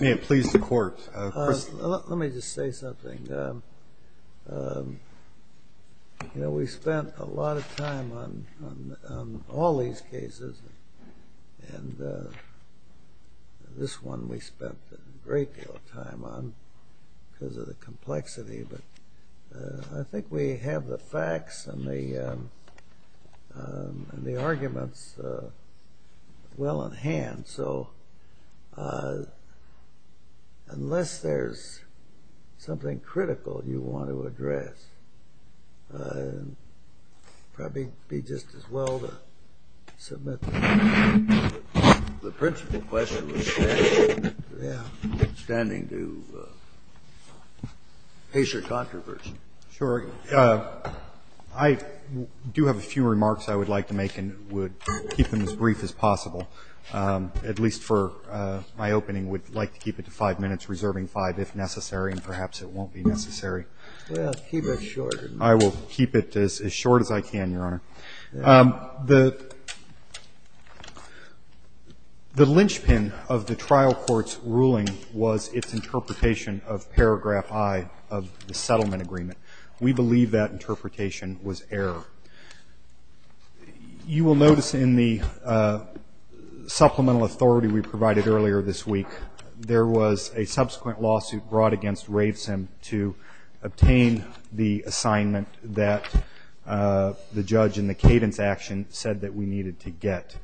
Let me just say something. We've spent a lot of time on all these cases, and this one we've spent a great deal of time on because of the complexity. But I think we have the facts and the arguments well in hand. So unless there's something critical you want to address, it would probably be just as well to submit them. The principle question was standing to pace your controversy. Sure. I do have a few remarks I would like to make and would keep them as brief as possible, at least for my opening. I would like to keep it to five minutes, reserving five if necessary, and perhaps it won't be necessary. Well, keep it short. I will keep it as short as I can, Your Honor. The lynchpin of the trial court's ruling was its interpretation of paragraph I of the settlement agreement. We believe that interpretation was error. You will notice in the supplemental authority we provided earlier this week, there was a subsequent lawsuit brought against Ravesim to obtain the assignment that the judge in the cadence action said that we needed to get.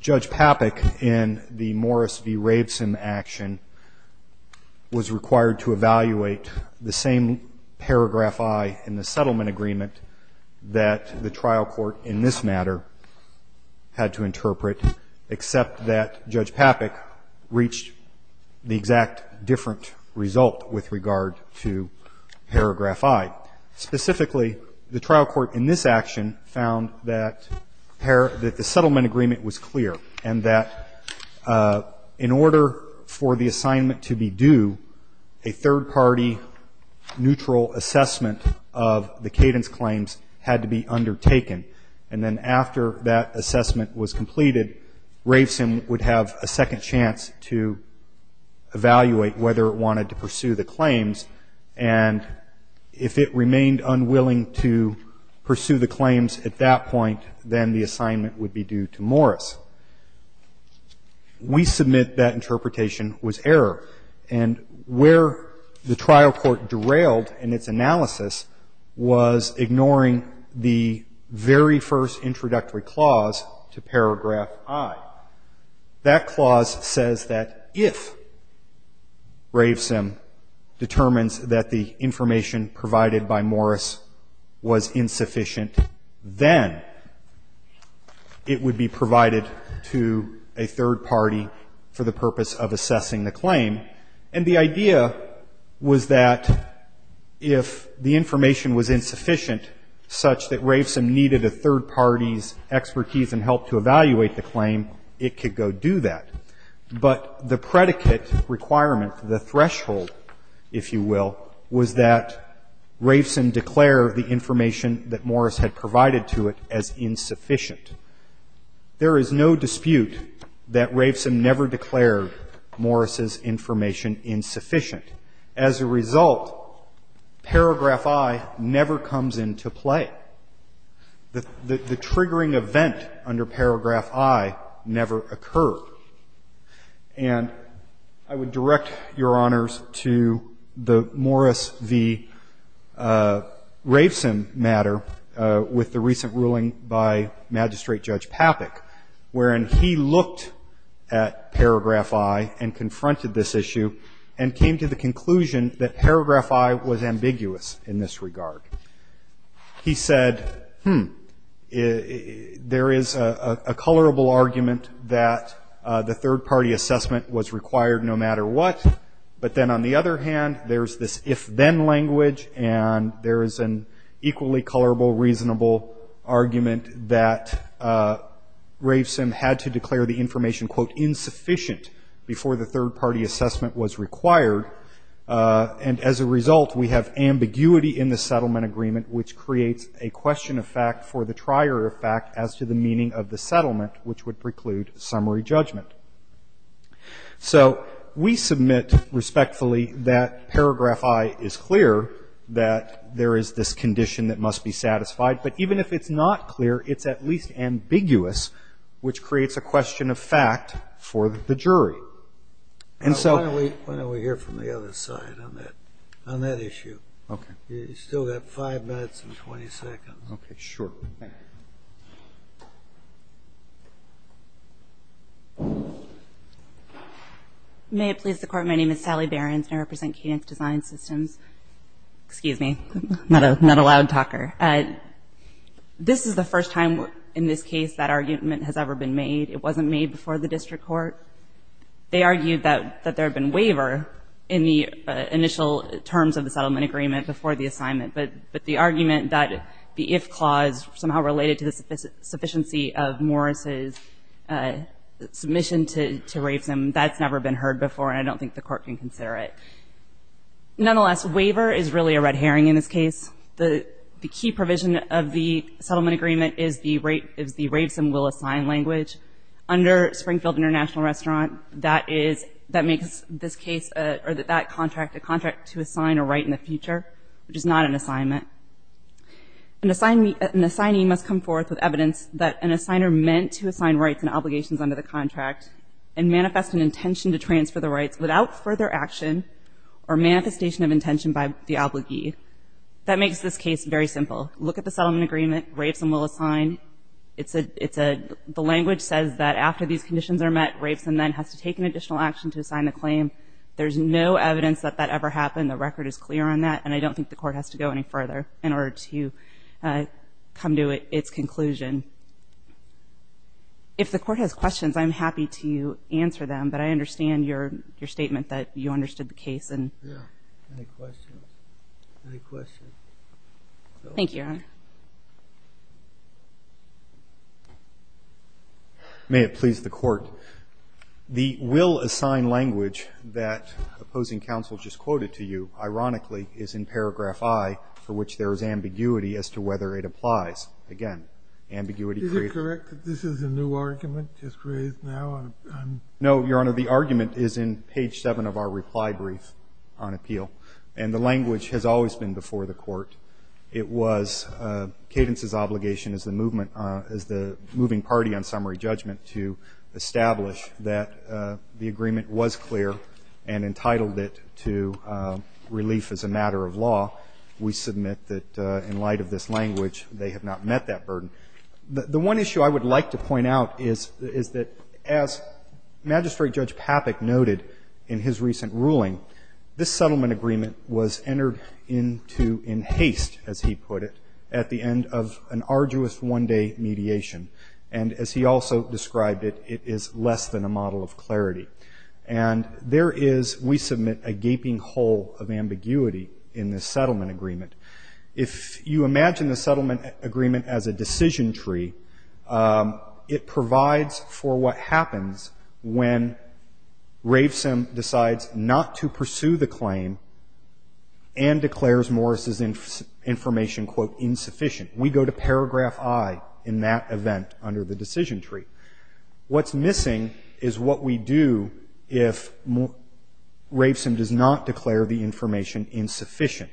Judge Papek in the Morris v. Ravesim action was required to evaluate the same paragraph I in the settlement agreement that the trial court in this matter had to interpret, except that Judge Papek reached the exact different result with regard to paragraph I. Specifically, the trial court in this action found that the settlement agreement was clear and that in order for the assignment to be due, a third party neutral assessment of the cadence claims had to be undertaken. And then after that assessment was completed, Ravesim would have a second chance to evaluate whether it wanted to pursue the claims. And if it remained unwilling to pursue the claims at that point, then the assignment would be due to Morris. We submit that interpretation was error. And where the trial court derailed in its analysis was ignoring the very first introductory clause to paragraph I. That clause says that if Ravesim determines that the information provided by Morris was insufficient, then it would be provided to a third party for the purpose of assessing the claim. And the idea was that if the information was insufficient such that Ravesim needed a third party's expertise and help to evaluate the claim, it could go do that. But the predicate requirement, the threshold, if you will, was that Ravesim declare the information that Morris had provided to it as insufficient. There is no dispute that Ravesim never declared Morris's information insufficient. As a result, paragraph I never comes into play. The triggering event under paragraph I never occurred. And I would direct Your Honors to the Morris v. Ravesim matter with the recent ruling by Magistrate Judge Papik wherein he looked at paragraph I and confronted this issue and came to the conclusion that paragraph I was ambiguous in this regard. He said, hmm, there is a colorable argument that the third party assessment was required no matter what, but then on the other hand there's this if-then language and there is an equally colorable, reasonable argument that Ravesim had to declare the information, quote, insufficient before the third party assessment was required. And as a result, we have ambiguity in the settlement agreement, which creates a question of fact for the trier of fact as to the meaning of the settlement, which would preclude summary judgment. So we submit respectfully that paragraph I is clear, that there is this condition that must be satisfied. But even if it's not clear, it's at least ambiguous, which creates a question of fact for the jury. And so why don't we hear from the other side on that issue? Okay. You still have five minutes and 20 seconds. Okay, sure. Thank you. May it please the Court, my name is Sally Behrens and I represent Cadence Design Systems. Excuse me, I'm not a loud talker. This is the first time in this case that argument has ever been made. It wasn't made before the district court. They argued that there had been waiver in the initial terms of the settlement agreement before the assignment. But the argument that the if clause somehow related to the sufficiency of Morris's submission to Ravesim, that's never been heard before and I don't think the Court can consider it. Nonetheless, waiver is really a red herring in this case. The key provision of the settlement agreement is the Ravesim will assign language. Under Springfield International Restaurant, that is, that makes this case, or that contract, a contract to assign a right in the future, which is not an assignment. An assignee must come forth with evidence that an assigner meant to assign rights and obligations under the contract and manifest an intention to transfer the rights without further action or manifestation of intention by the obligee. That makes this case very simple. Look at the settlement agreement, Ravesim will assign. It's a, it's a, the language says that after these conditions are met, Ravesim then has to take an additional action to assign the claim. There's no evidence that that ever happened. The record is clear on that. And I don't think the Court has to go any further in order to come to its conclusion. If the Court has questions, I'm happy to answer them. But I understand your statement that you understood the case. Yeah. Any questions? Any questions? Thank you, Your Honor. May it please the Court. The will assign language that opposing counsel just quoted to you, ironically, is in paragraph I, for which there is ambiguity as to whether it applies. Again, ambiguity. Is it correct that this is a new argument just raised now? No, Your Honor. The argument is in page 7 of our reply brief on appeal. And the language has always been before the Court. It was Cadence's obligation as the movement, as the moving party on summary judgment to establish that the agreement was clear and entitled it to relief as a matter of law. We submit that in light of this language, they have not met that burden. The one issue I would like to point out is that as Magistrate Judge Papik noted in his recent ruling, this settlement agreement was entered into in haste, as he put it, at the end of an arduous one-day mediation. And as he also described it, it is less than a model of clarity. And there is, we submit, a gaping hole of ambiguity in this settlement agreement. If you imagine the settlement agreement as a decision tree, it provides for what happens when Ravesom decides not to pursue the claim and declares Morris' information, quote, insufficient. We go to paragraph I in that event under the decision tree. What's missing is what we do if Ravesom does not declare the information insufficient.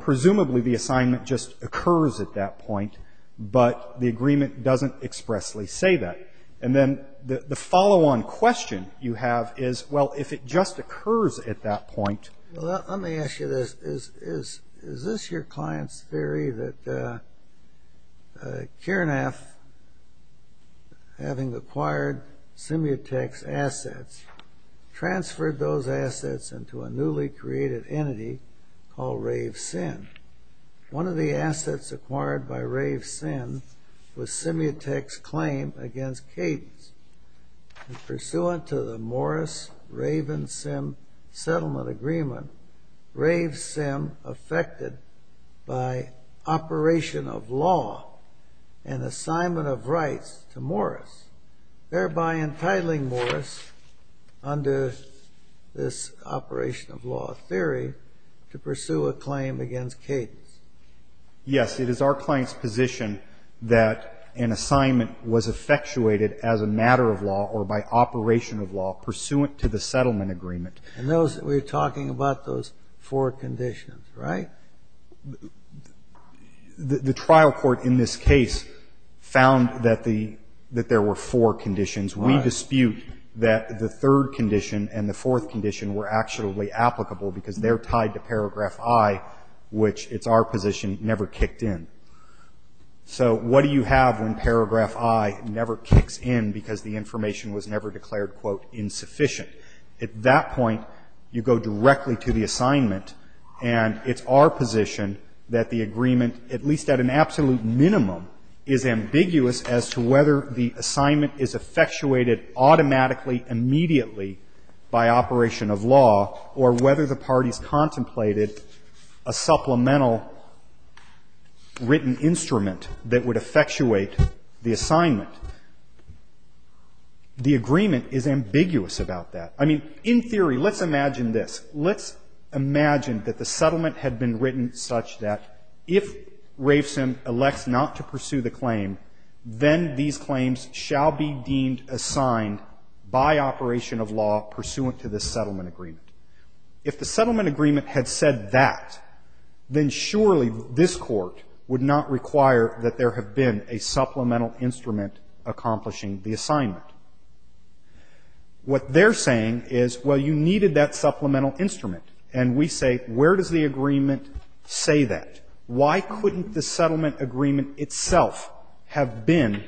Presumably, the assignment just occurs at that point, but the agreement doesn't expressly say that. And then the follow-on question you have is, well, if it just occurs at that point. Well, let me ask you this. Is this your client's theory that Kiranath, having acquired Simutex assets, transferred those assets into a newly created entity called Ravesim? One of the assets acquired by Ravesim was Simutex's claim against Cadence. And pursuant to the Morris-Ravensim settlement agreement, Ravesim, affected by operation of law and assignment of rights to Morris, thereby entitling Morris, under this operation of law theory, to pursue a claim against Cadence? Yes. It is our client's position that an assignment was effectuated as a matter of law or by operation of law pursuant to the settlement agreement. And we're talking about those four conditions, right? The trial court in this case found that there were four conditions. We dispute that the third condition and the fourth condition were actually applicable because they're tied to paragraph I, which, it's our position, never kicked in. So what do you have when paragraph I never kicks in because the information was never declared, quote, insufficient? At that point, you go directly to the assignment, and it's our position that the agreement, at least at an absolute minimum, is ambiguous as to whether the assignment is effectuated automatically, immediately by operation of law, or whether the parties contemplated a supplemental written instrument that would effectuate the assignment. The agreement is ambiguous about that. I mean, in theory, let's imagine this. Let's imagine that the settlement had been written such that if Rafeson elects not to pursue the claim, then these claims shall be deemed assigned by operation of law pursuant to the settlement agreement. If the settlement agreement had said that, then surely this Court would not require that there have been a supplemental instrument accomplishing the assignment. What they're saying is, well, you needed that supplemental instrument. And we say, where does the agreement say that? Why couldn't the settlement agreement itself have been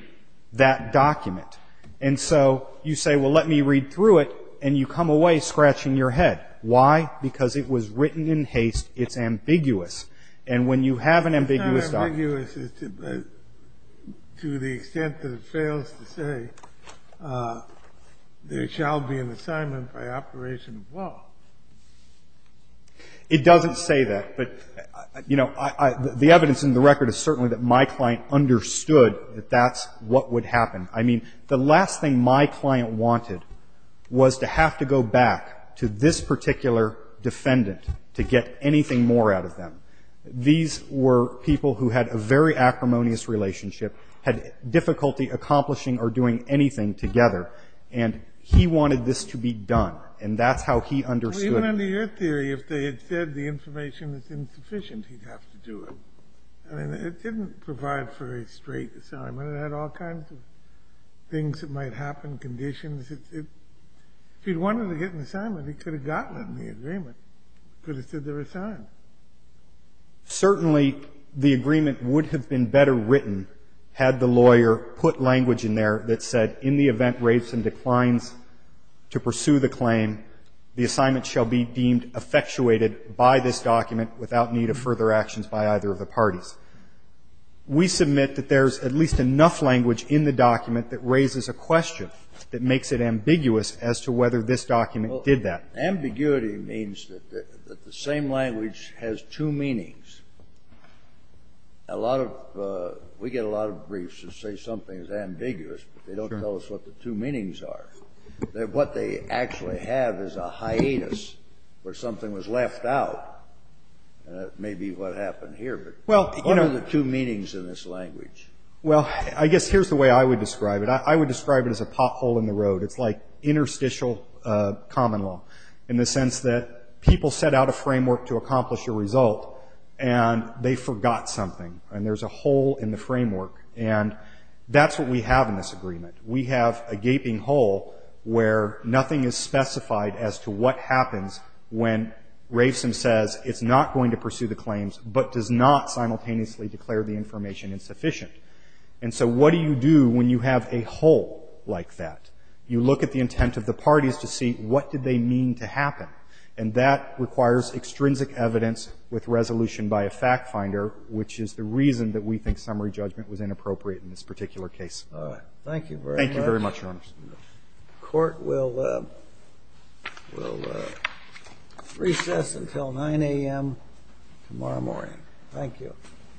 that document? And so you say, well, let me read through it, and you come away scratching your head. Why? Because it was written in haste. It's ambiguous. And when you have an ambiguous document to the extent that it fails to say there shall be an assignment by operation of law. It doesn't say that. But, you know, the evidence in the record is certainly that my client understood that that's what would happen. I mean, the last thing my client wanted was to have to go back to this particular defendant to get anything more out of them. These were people who had a very acrimonious relationship, had difficulty accomplishing or doing anything together, and he wanted this to be done. And that's how he understood it. Kennedy, even under your theory, if they had said the information is insufficient, he'd have to do it. I mean, it didn't provide for a straight assignment. It had all kinds of things that might happen, conditions. If he wanted to get an assignment, he could have gotten it in the agreement. He could have said there was time. Certainly, the agreement would have been better written had the lawyer put language in there that said, in the event rates and declines to pursue the claim, the assignment shall be deemed effectuated by this document without need of further actions by either of the parties. We submit that there's at least enough language in the document that raises a question that makes it ambiguous as to whether this document did that. Ambiguity means that the same language has two meanings. A lot of we get a lot of briefs that say something is ambiguous, but they don't tell us what the two meanings are. What they actually have is a hiatus where something was left out. And that may be what happened here, but what are the two meanings in this language? Well, I guess here's the way I would describe it. I would describe it as a pothole in the road. It's like interstitial common law in the sense that people set out a framework to accomplish a result, and they forgot something, and there's a hole in the framework. And that's what we have in this agreement. We have a gaping hole where nothing is specified as to what happens when Rafeson says it's not going to pursue the claims but does not simultaneously declare the information insufficient. And so what do you do when you have a hole like that? You look at the intent of the parties to see what did they mean to happen. And that requires extrinsic evidence with resolution by a fact finder, which is the reason that we think summary judgment was inappropriate in this particular Thank you very much. Thank you very much, Your Honors. The Court will recess until 9 a.m. tomorrow morning. Thank you.